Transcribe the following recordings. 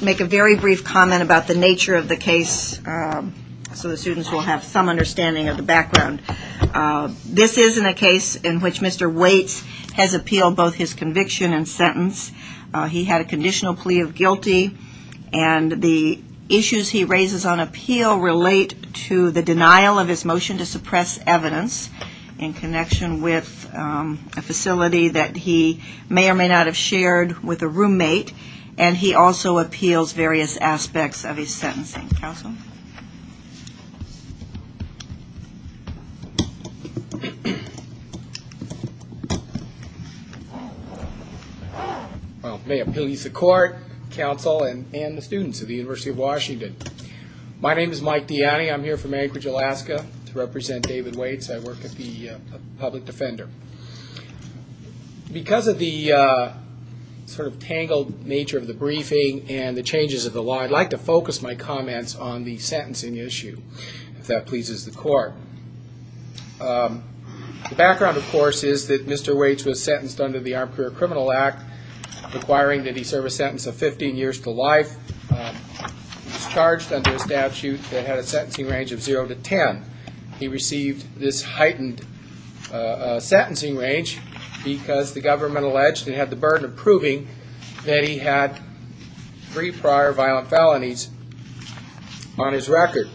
make a very brief comment about the nature of the case so the students will have some understanding of the background. This isn't a case in which Mr. Waits has appealed both his conviction and sentence. He had a conditional plea of guilty and the issues he raises on appeal relate to the denial of his motion to suppress evidence in connection with a motion that repeals various aspects of his sentencing. May it please the court, counsel and the students of the University of Washington. My name is Mike Diani. I'm here from Anchorage, Alaska to represent David Waits. I work at the Public I'd like to focus my comments on the sentencing issue, if that pleases the court. The background of course is that Mr. Waits was sentenced under the Armed Career Criminal Act requiring that he serve a sentence of 15 years to life. He was charged under a statute that had a sentencing range of zero to ten. He received this heightened sentencing range because the prior violent felonies on his record.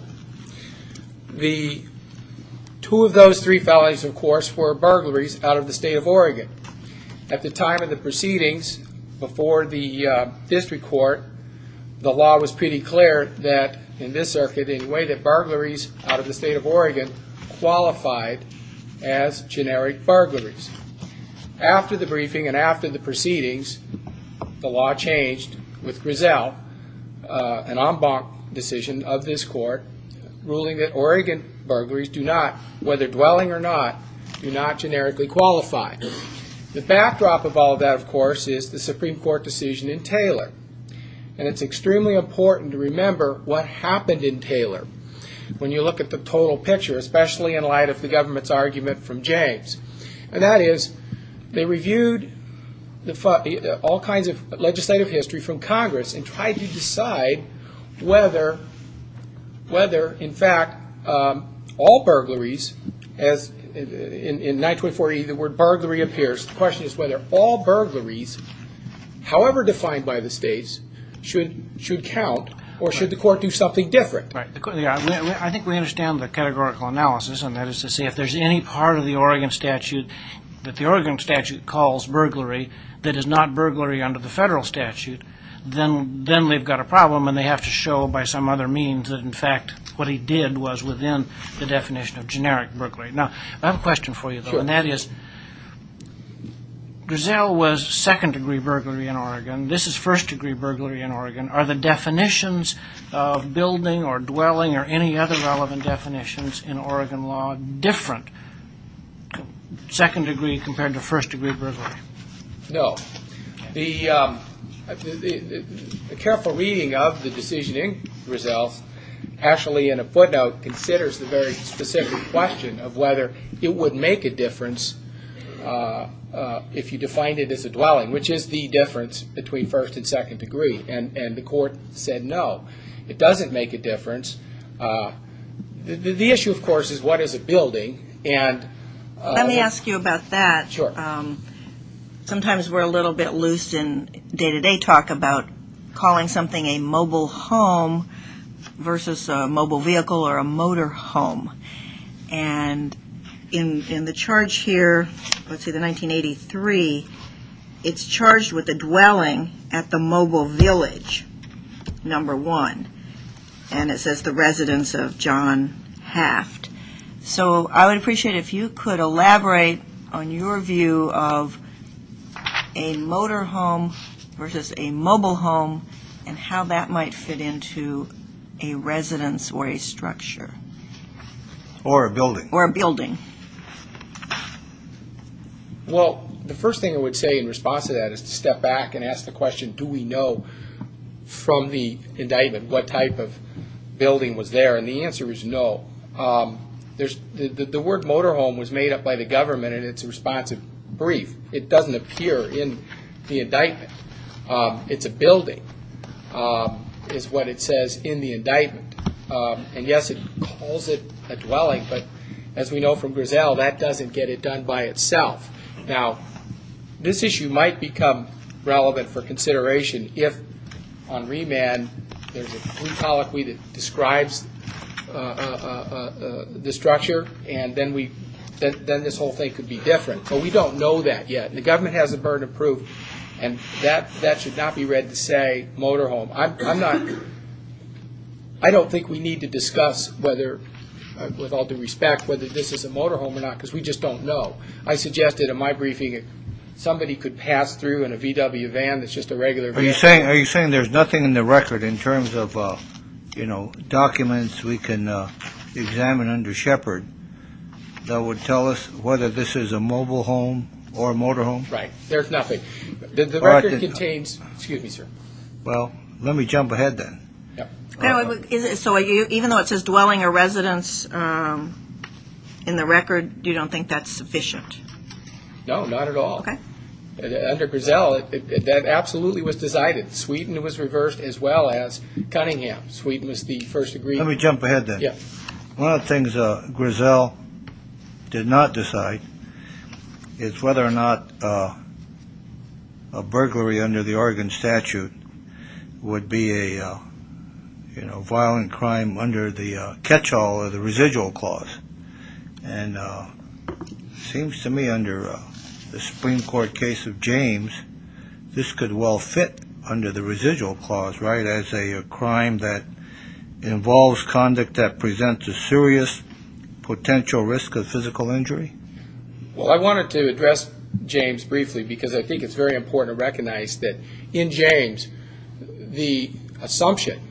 Two of those three felonies of course were burglaries out of the state of Oregon. At the time of the proceedings before the district court, the law was pretty clear that in this circuit in a way that burglaries out of the state of Oregon qualified as generic burglaries. After the briefing and after the proceedings the law changed with Griselle, an en banc decision of this court, ruling that Oregon burglaries do not, whether dwelling or not, do not generically qualify. The backdrop of all that of course is the Supreme Court decision in Taylor. It's extremely important to remember what happened in Taylor when you look at the total picture, especially in light of the all kinds of legislative history from Congress and tried to decide whether in fact all burglaries as in 924E the word burglary appears. The question is whether all burglaries, however defined by the states, should count or should the court do something different. I think we understand the categorical analysis and that is to say if there's any part of the Oregon statute that the Oregon statute calls burglary that is not burglary under the federal statute, then we've got a problem and they have to show by some other means that in fact what he did was within the definition of generic burglary. Now I have a question for you though and that is Griselle was second degree burglary in Oregon. This is first degree burglary in Oregon. Are the definitions of building or dwelling or any other relevant definitions in Oregon law different, second degree compared to first degree burglary? No. The careful reading of the decision in Griselle's actually in a footnote considers the very specific question of whether it would make a difference if you defined it as a dwelling which is the difference between first and second degree and the court said no. It doesn't make a difference. The issue of course is what is a building and... Let me ask you about that. Sometimes we're a little bit loose in day to day talk about calling something a mobile home versus a mobile vehicle or a motor home and in the charge here, let's see the 1983, it's charged with a dwelling at the mobile village, number one. And it says the residence of John Haft. So I would appreciate if you could elaborate on your view of a motor home versus a mobile home and how that might fit into a residence or a structure. Or a building. Or a building. Well, the first thing I would say in response to that is to step back and ask the question, do we know from the indictment what type of building was there? And the answer is no. The word motor home was made up by the government and it's a responsive brief. It doesn't appear in the indictment. It's a building is what it says in the indictment. And yes, it calls it a dwelling, but as we know from Griselle, that doesn't get it done by itself. Now, this issue might become relevant for consideration if on remand, there's a free colloquy that describes the structure and then this whole thing could be different. But we don't know that yet. The government has a burden of proof and that should not be read to say motor home. I don't think we need to discuss whether, with all due respect, this is a motor home or not because we just don't know. I suggested in my briefing that somebody could pass through in a VW van that's just a regular vehicle. Are you saying there's nothing in the record in terms of documents we can examine under Shepard that would tell us whether this is a mobile home or a motor home? Right. There's nothing. The record contains... Excuse me, sir. Well, let me jump ahead then. So even though it says dwelling or residence in the record, you don't think that's sufficient? No, not at all. Under Griselle, that absolutely was decided. Sweden was reversed as well as Cunningham. Sweden was the first agreed... Let me jump ahead then. One of the things Griselle did not decide is whether or not a burglary under the Oregon statute would be a violent crime under the catch-all or the residual clause. And it seems to me under the Supreme Court case of James, this could well fit under the residual clause, right, as a crime that involves conduct that presents a serious potential risk of physical injury? Well, I wanted to address James briefly because I think it's very important to recognize that in James, the assumption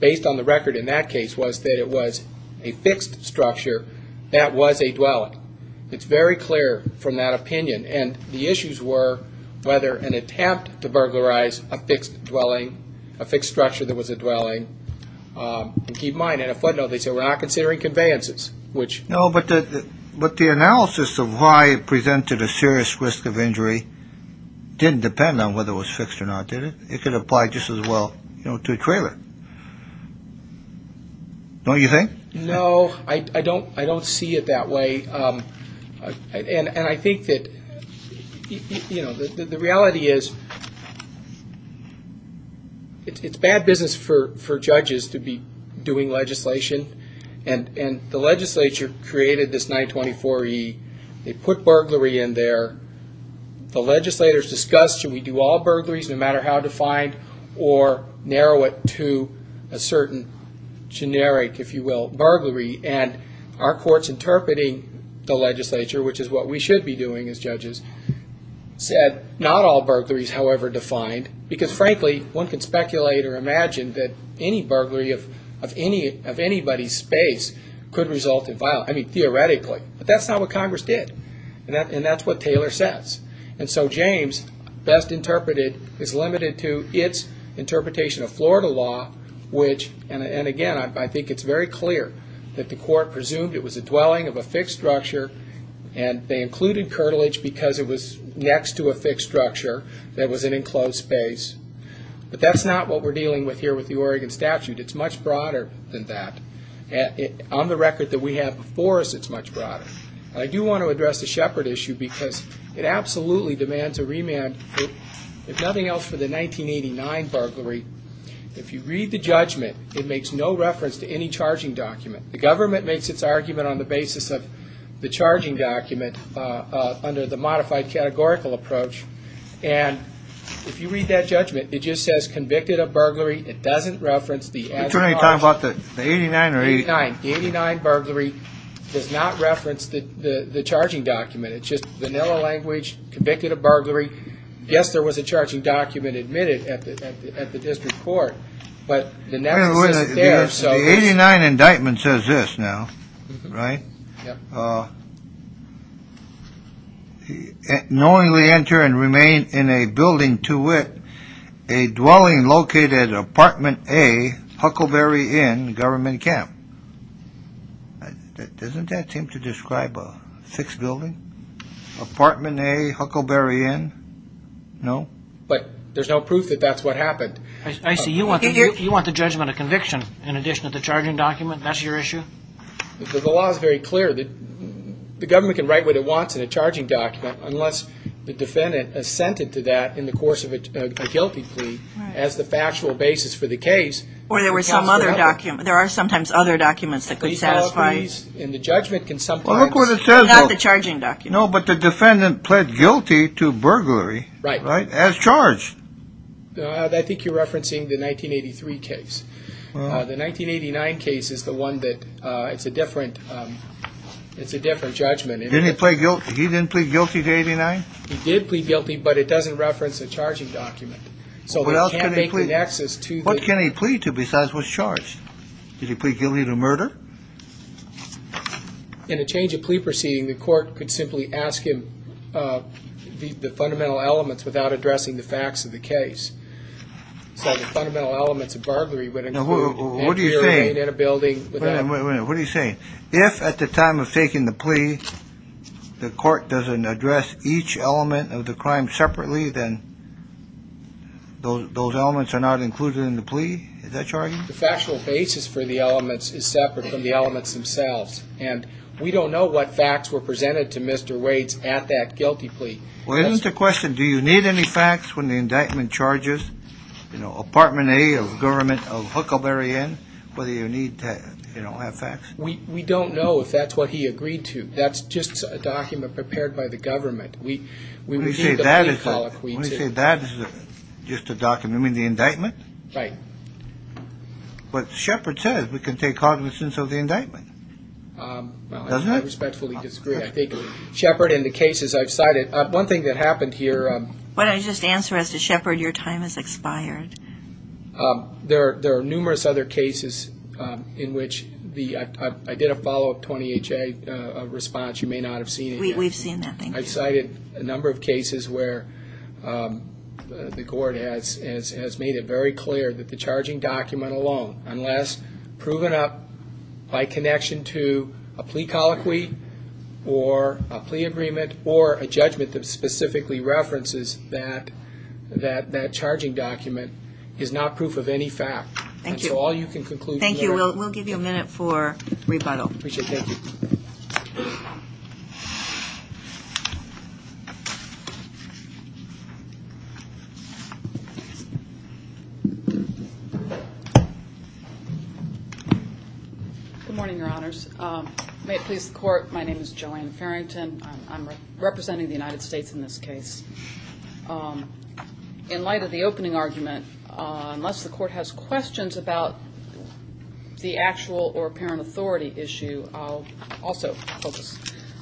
based on the record in that case was that it was a fixed structure that was a dwelling. It's very clear from that opinion. And the issues were whether an attempt to burglarize a fixed dwelling, a fixed structure that was a dwelling, and keep in mind, in a footnote, they said we're not considering conveyances, which... The analysis of why it presented a serious risk of injury didn't depend on whether it was fixed or not, did it? It could apply just as well to a trailer. Don't you think? No, I don't see it that way. And I think that the reality is it's bad business for judges to be doing legislation. And the legislature created this 924E. They put burglary in there. The legislators discussed, should we do all burglaries, no matter how defined, or narrow it to a certain generic, if you will, burglary? And our courts interpreting the legislature, which is what we should be doing as judges, said not all burglaries, however defined, because frankly, one can speculate or imagine that any burglary of anybody's space could result in violence. I mean, theoretically. But that's not what Congress did. And that's what Taylor says. And so James, best interpreted, is limited to its interpretation of Florida law, which, and again, I think it's very clear that the court presumed it was a dwelling of a fixed structure, and they included curtilage because it was next to a fixed structure that was an enclosed space. But that's not what we're dealing with here with the Oregon statute. It's much broader than that. On the record that we have before us, it's much broader. And I do want to address the Shepard issue because it absolutely demands a remand. If nothing else, for the 1989 burglary, if you read the judgment, it makes no reference to any charging document. The government makes its argument on the basis of the charging document under the modified categorical approach. And if you read that judgment, it just says convicted of burglary. It doesn't reference the adjunct charge. You're talking about the 89 or 89? The 89 burglary does not reference the charging document. It's just vanilla language, convicted of burglary. Yes, there was a charging document admitted at the district court, but the net statement says this now, right? Knowingly enter and remain in a building to wit, a dwelling located at Apartment A, Huckleberry Inn, Government Camp. Doesn't that seem to describe a fixed building? Apartment A, Huckleberry Inn? No? But there's no proof that that's what happened. I see. You want the judgment of conviction in addition to the charging document? That's your issue? The law is very clear. The government can write what it wants in a charging document unless the defendant assented to that in the course of a guilty plea as the factual basis for the case. Or there were some other documents. There are sometimes other documents that could satisfy. And the judgment can sometimes... Well, look what it says. Not the charging document. No, but the defendant pled guilty to burglary. Right. As charged. I think you're referencing the 1983 case. The 1989 case is the one that it's a different judgment. Didn't he plead guilty? He didn't plead guilty to 89? He did plead guilty, but it doesn't reference a charging document. What else can he plead? What can he plead to besides what's charged? Did he plead guilty to murder? In a change of plea proceeding, the court could simply ask him the fundamental elements without addressing the facts of the case. So the fundamental elements of burglary would include... Now, what are you saying? ...ambulance in a building without... Wait a minute. What are you saying? If at the time of taking the plea, the court doesn't address each element of the crime separately, then those elements are not included in the plea? Is that your argument? The factual basis for the elements is separate from the elements themselves. And we don't know what facts were presented to Mr. Waits at that guilty plea. Well, isn't the question, do you need any facts when the indictment charges, you know, Apartment A of government of Huckleberry Inn, whether you need to, you know, have facts? We don't know if that's what he agreed to. That's just a document prepared by the government. We would need the plea colloquy to... When you say that is just a document, you mean the indictment? Right. But Shepard says we can take cognizance of the indictment, doesn't it? I respectfully disagree. I think Shepard and the cases I've cited... One thing that happened here... Why don't you just answer as to Shepard, your time has expired. There are numerous other cases in which the... I did a follow-up 20HA response. You may not have seen it yet. We've seen that, thank you. I've cited a number of cases where the court has made it very clear that the charging document alone, unless proven up by connection to a plea colloquy, or a plea agreement, or a judgment that specifically references that charging document, is not proof of any fact. Thank you. And so all you can conclude... Thank you. We'll give you a minute for rebuttal. Appreciate it. Thank you. Good morning, your honors. May it please the court, my name is Joanne Farrington. I'm representing the United States in this case. In light of the opening argument, unless the court has questions about the actual or apparent authority issue, I'll also focus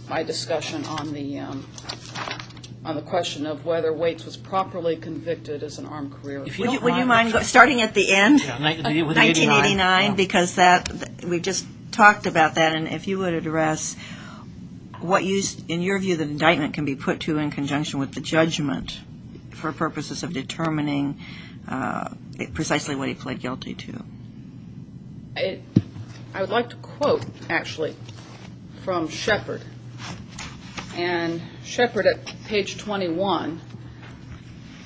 my discussion on the question of whether Waits was properly convicted as an armed career. Would you mind starting at the end? 1989, because we just talked about that. And if you would address what, in your view, the indictment can be put to in conjunction with the judgment for purposes of determining precisely what he pled guilty to. I would like to quote, actually, from Shepard. And Shepard, at page 21,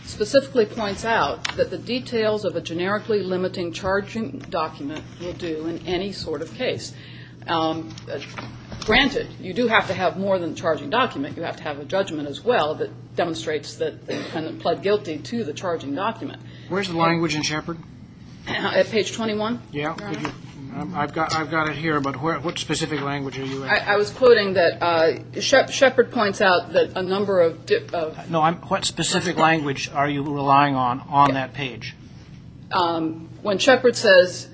specifically points out that the details of a generically limiting charging document will do in any sort of case. Granted, you do have to have more than a charging document. You have to have a judgment as well that demonstrates that the defendant pled guilty to the charging document. Where's the language in Shepard? At page 21? Yeah. I've got it here, but what specific language are you asking? I was quoting that Shepard points out that a number of... No, what specific language are you relying on, on that page? When Shepard says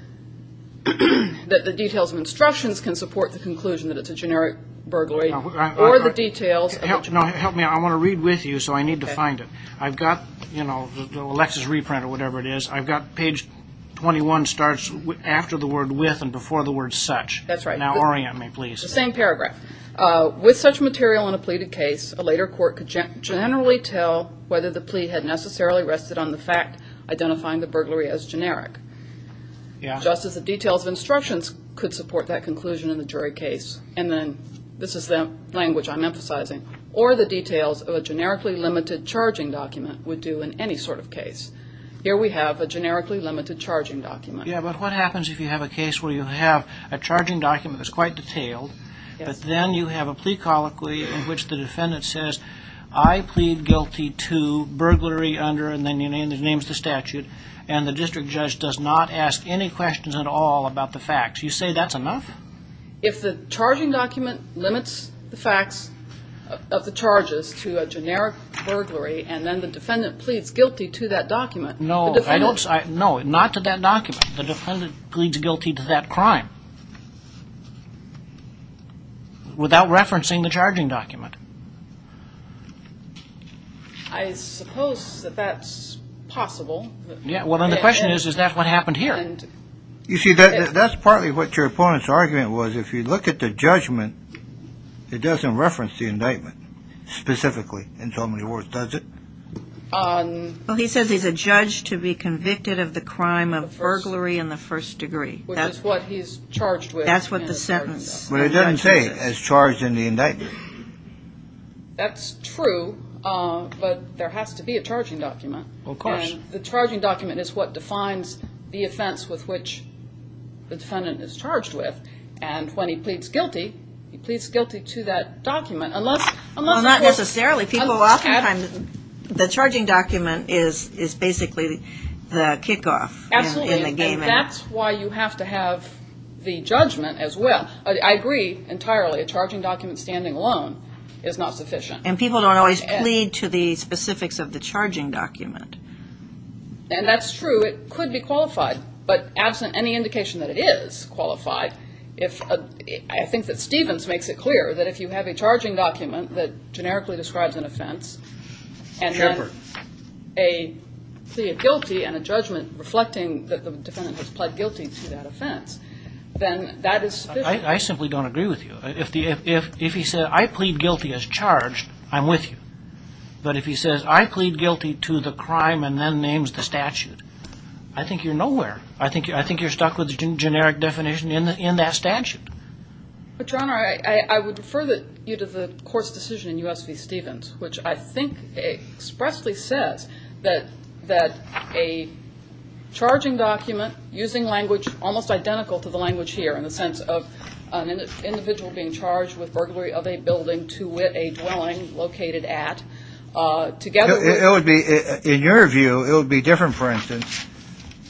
that the details of instructions can support the conclusion that it's a generic burglary or the details... Help me. I want to read with you, so I need to find it. I've got, you know, the Lexis reprint or whatever it is. I've got page 21 starts after the word with and before the word such. That's right. Now orient me, please. The same paragraph. With such material in a pleaded case, a later court could generally tell whether the plea had necessarily rested on the fact identifying the burglary as generic. Just as the details of instructions could support that conclusion in the jury case, and then this is the language I'm emphasizing, or the details of a generically limited charging document would do in any sort of case. Here we have a generically limited charging document. Yeah, but what happens if you have a case where you have a charging document that's quite detailed, but then you have a plea colloquy in which the defendant says, I plead guilty to burglary under, and then he names the statute, and the district judge does not ask any questions at all about the facts. You say that's enough? If the charging document limits the facts of the charges to a generic burglary, and then the defendant pleads guilty to that document... No, not to that document. The defendant pleads guilty to that crime without referencing the charging document. I suppose that that's possible. Yeah, well then the question is, is that what happened here? You see, that's partly what your opponent's argument was. If you look at the judgment, it doesn't reference the indictment specifically in so many words, does it? Well, he says he's a judge to be convicted of the crime of burglary in the first degree. Which is what he's charged with. That's what the sentence... But it doesn't say, as charged in the indictment. That's true, but there has to be a charging document. Of course. And the charging document is what defines the offense with which the defendant is charged with, and when he pleads guilty, he pleads guilty to that document, unless... The charging document is basically the kickoff. Absolutely, and that's why you have to have the judgment as well. I agree entirely, a charging document standing alone is not sufficient. And people don't always plead to the specifics of the charging document. And that's true, it could be qualified. But absent any indication that it is qualified, I think that Stevens makes it clear that if you have a charging document that generically describes an offense, and then a plea of guilty and a judgment reflecting that the defendant has plead guilty to that offense, then that is sufficient. I simply don't agree with you. If he said, I plead guilty as charged, I'm with you. But if he says, I plead guilty to the crime and then names the statute, I think you're nowhere. I think you're stuck with the generic definition in that statute. But, Your Honor, I would refer you to the court's decision in U.S. v. Stevens, which I think expressly says that a charging document using language almost identical to the language here, in the sense of an individual being charged with burglary of a building to wit a dwelling located at, together with... It would be, in your view, it would be different, for instance,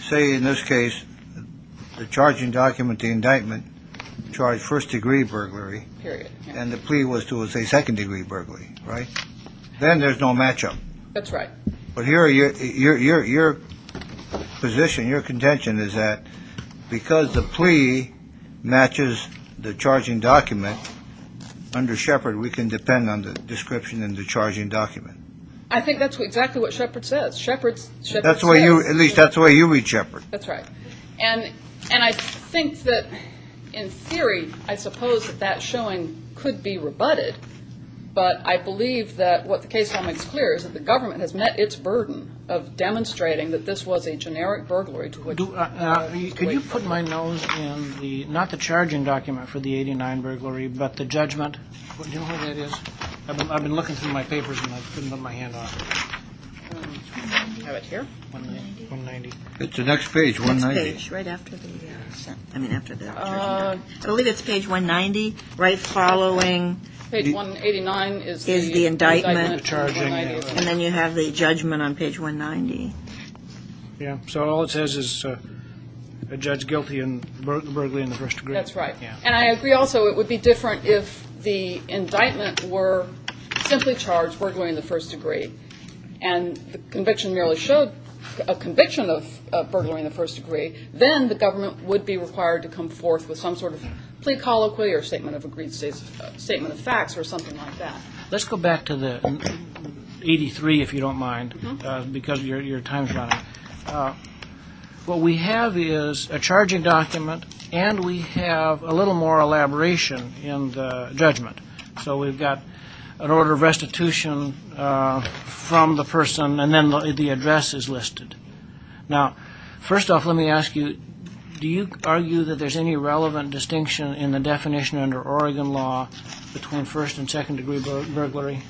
say, in this case, the charging document, the indictment charged first-degree burglary, and the plea was to a second-degree burglary, right? Then there's no match-up. That's right. But your position, your contention is that because the plea matches the charging document, under Shepard, we can depend on the description in the charging document. I think that's exactly what Shepard says. At least that's the way you read Shepard. That's right. And I think that, in theory, I suppose that that showing could be rebutted, but I believe that what the case law makes clear is that the government has met its burden of demonstrating that this was a generic burglary to which... Could you put my nose in the, not the charging document for the 89 burglary, but the judgment? Do you know what that is? I've been looking through my papers, and I couldn't put my hand on it. How about here? 190. It's the next page, 190. Right after the, I mean, after the charging document. I believe it's page 190, right following... Page 189 is the indictment. Is the indictment. And then you have the judgment on page 190. Yeah, so all it says is a judge guilty in burglary in the first degree. That's right. And I agree also it would be different if the indictment were simply charged burglary in the first degree. And the conviction merely showed a conviction of burglary in the first degree. Then the government would be required to come forth with some sort of plea colloquy or statement of facts or something like that. Let's go back to the 83, if you don't mind, because your time's running. What we have is a charging document, and we have a little more elaboration in the judgment. So we've got an order of restitution from the person, and then the address is listed. Now, first off, let me ask you, do you argue that there's any relevant distinction in the definition under Oregon law between first and second degree burglary?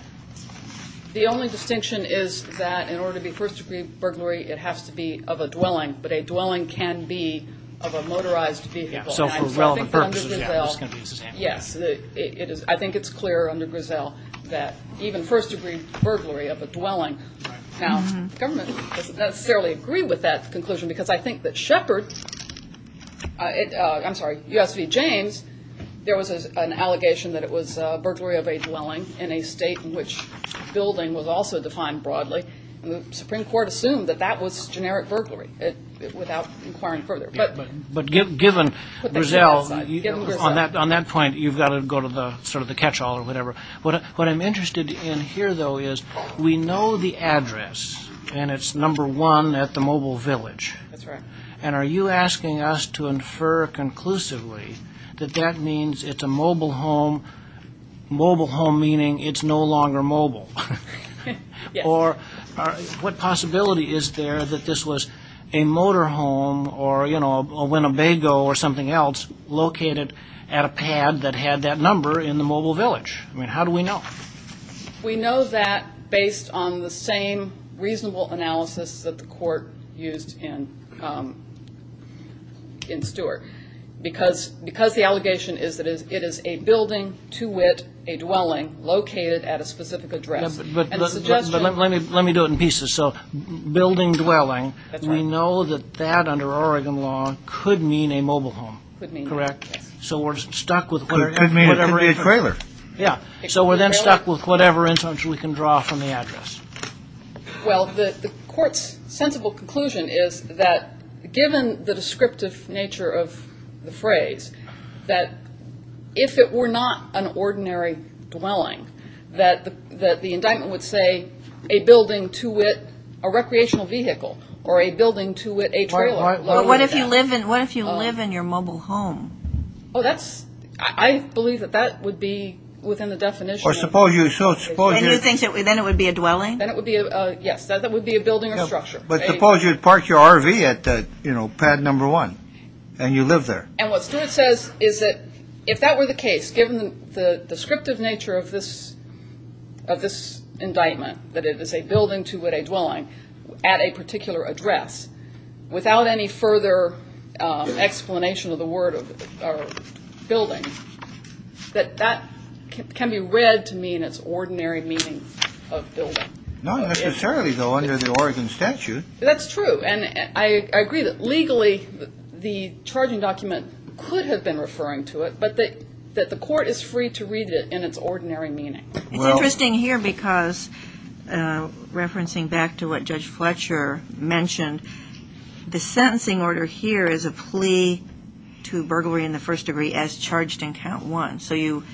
The only distinction is that in order to be first degree burglary, it has to be of a dwelling. But a dwelling can be of a motorized vehicle. So for relevant purposes. Yes, I think it's clear under Griselle that even first degree burglary of a dwelling. Now, the government doesn't necessarily agree with that conclusion, because I think that Sheppard, I'm sorry, U.S. v. James, there was an allegation that it was burglary of a dwelling in a state in which building was also defined broadly. The Supreme Court assumed that that was generic burglary without inquiring further. But given Griselle, on that point, you've got to go to sort of the catch-all or whatever. What I'm interested in here, though, is we know the address, and it's number one at the mobile village. That's right. And are you asking us to infer conclusively that that means it's a mobile home, mobile home meaning it's no longer mobile? Yes. Or what possibility is there that this was a motor home or, you know, a Winnebago or something else located at a pad that had that number in the mobile village? I mean, how do we know? We know that based on the same reasonable analysis that the court used in Stewart. Because the allegation is that it is a building to wit, a dwelling, located at a specific address. But let me do it in pieces. So building, dwelling, we know that that, under Oregon law, could mean a mobile home. Correct? So we're stuck with whatever. It could be a trailer. Yeah. So we're then stuck with whatever instance we can draw from the address. Well, the court's sensible conclusion is that given the descriptive nature of the phrase, that if it were not an ordinary dwelling, that the indictment would say a building to wit a recreational vehicle or a building to wit a trailer. But what if you live in your mobile home? Oh, that's – I believe that that would be within the definition. Or suppose you – And you think then it would be a dwelling? Then it would be a – yes, that would be a building or structure. But suppose you'd park your RV at, you know, pad number one and you live there. And what Stewart says is that if that were the case, given the descriptive nature of this indictment, that it is a building to wit a dwelling at a particular address, without any further explanation of the word of building, that that can be read to mean its ordinary meaning of building. Not necessarily, though, under the Oregon statute. That's true. And I agree that legally the charging document could have been referring to it, but that the court is free to read it in its ordinary meaning. It's interesting here because, referencing back to what Judge Fletcher mentioned, the sentencing order here is a plea to burglary in the first degree as charged in count one. So you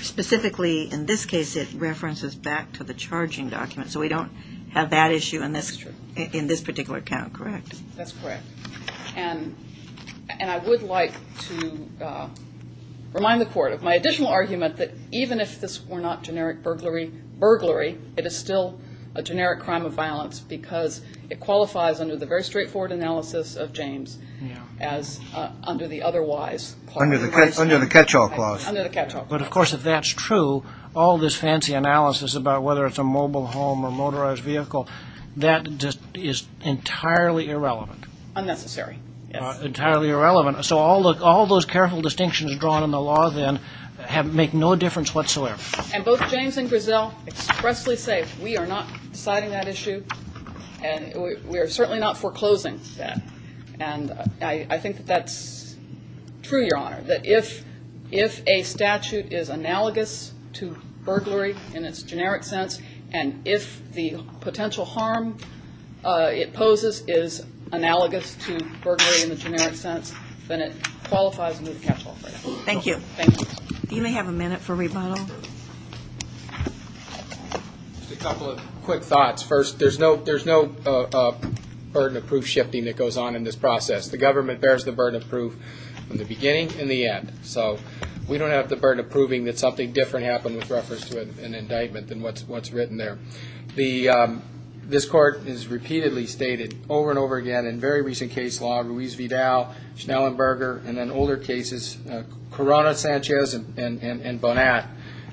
specifically, in this case, it references back to the charging document. So we don't have that issue in this. That's true. In this particular count, correct? That's correct. And I would like to remind the court of my additional argument that, even if this were not generic burglary, it is still a generic crime of violence because it qualifies under the very straightforward analysis of James as under the otherwise. Under the catch-all clause. Under the catch-all clause. But, of course, if that's true, all this fancy analysis about whether it's a mobile home or a motorized vehicle, that just is entirely irrelevant. Unnecessary. Entirely irrelevant. So all those careful distinctions drawn in the law then make no difference whatsoever. And both James and Griselle expressly say we are not deciding that issue and we are certainly not foreclosing that. And I think that that's true, Your Honor, that if a statute is analogous to burglary in its generic sense and if the potential harm it poses is analogous to burglary in the generic sense, then it qualifies under the catch-all clause. Thank you. You may have a minute for rebuttal. Just a couple of quick thoughts. First, there's no burden of proof shifting that goes on in this process. The government bears the burden of proof in the beginning and the end. So we don't have the burden of proving that something different happened with reference to an indictment than what's written there. This Court has repeatedly stated over and over again in very recent case law, Ruiz-Vidal, Schnellenberger, and then older cases, Corona, Sanchez, and Bonat,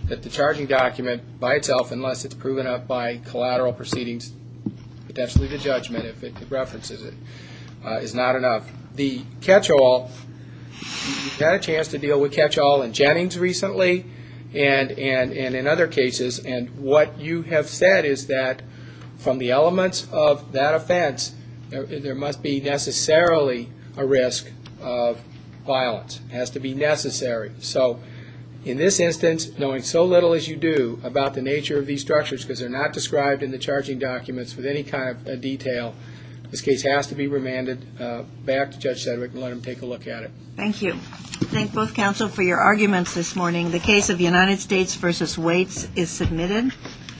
that the charging document by itself, unless it's proven up by collateral proceedings, potentially the judgment, if it references it, is not enough. The catch-all, you've had a chance to deal with catch-all in Jennings recently and in other cases, and what you have said is that from the elements of that offense, there must be necessarily a risk of violence. It has to be necessary. So in this instance, knowing so little as you do about the nature of these structures, because they're not described in the charging documents with any kind of detail, this case has to be remanded back to Judge Sedgwick and let him take a look at it. Thank you. Thank both counsel for your arguments this morning. The case of United States v. Waits is submitted.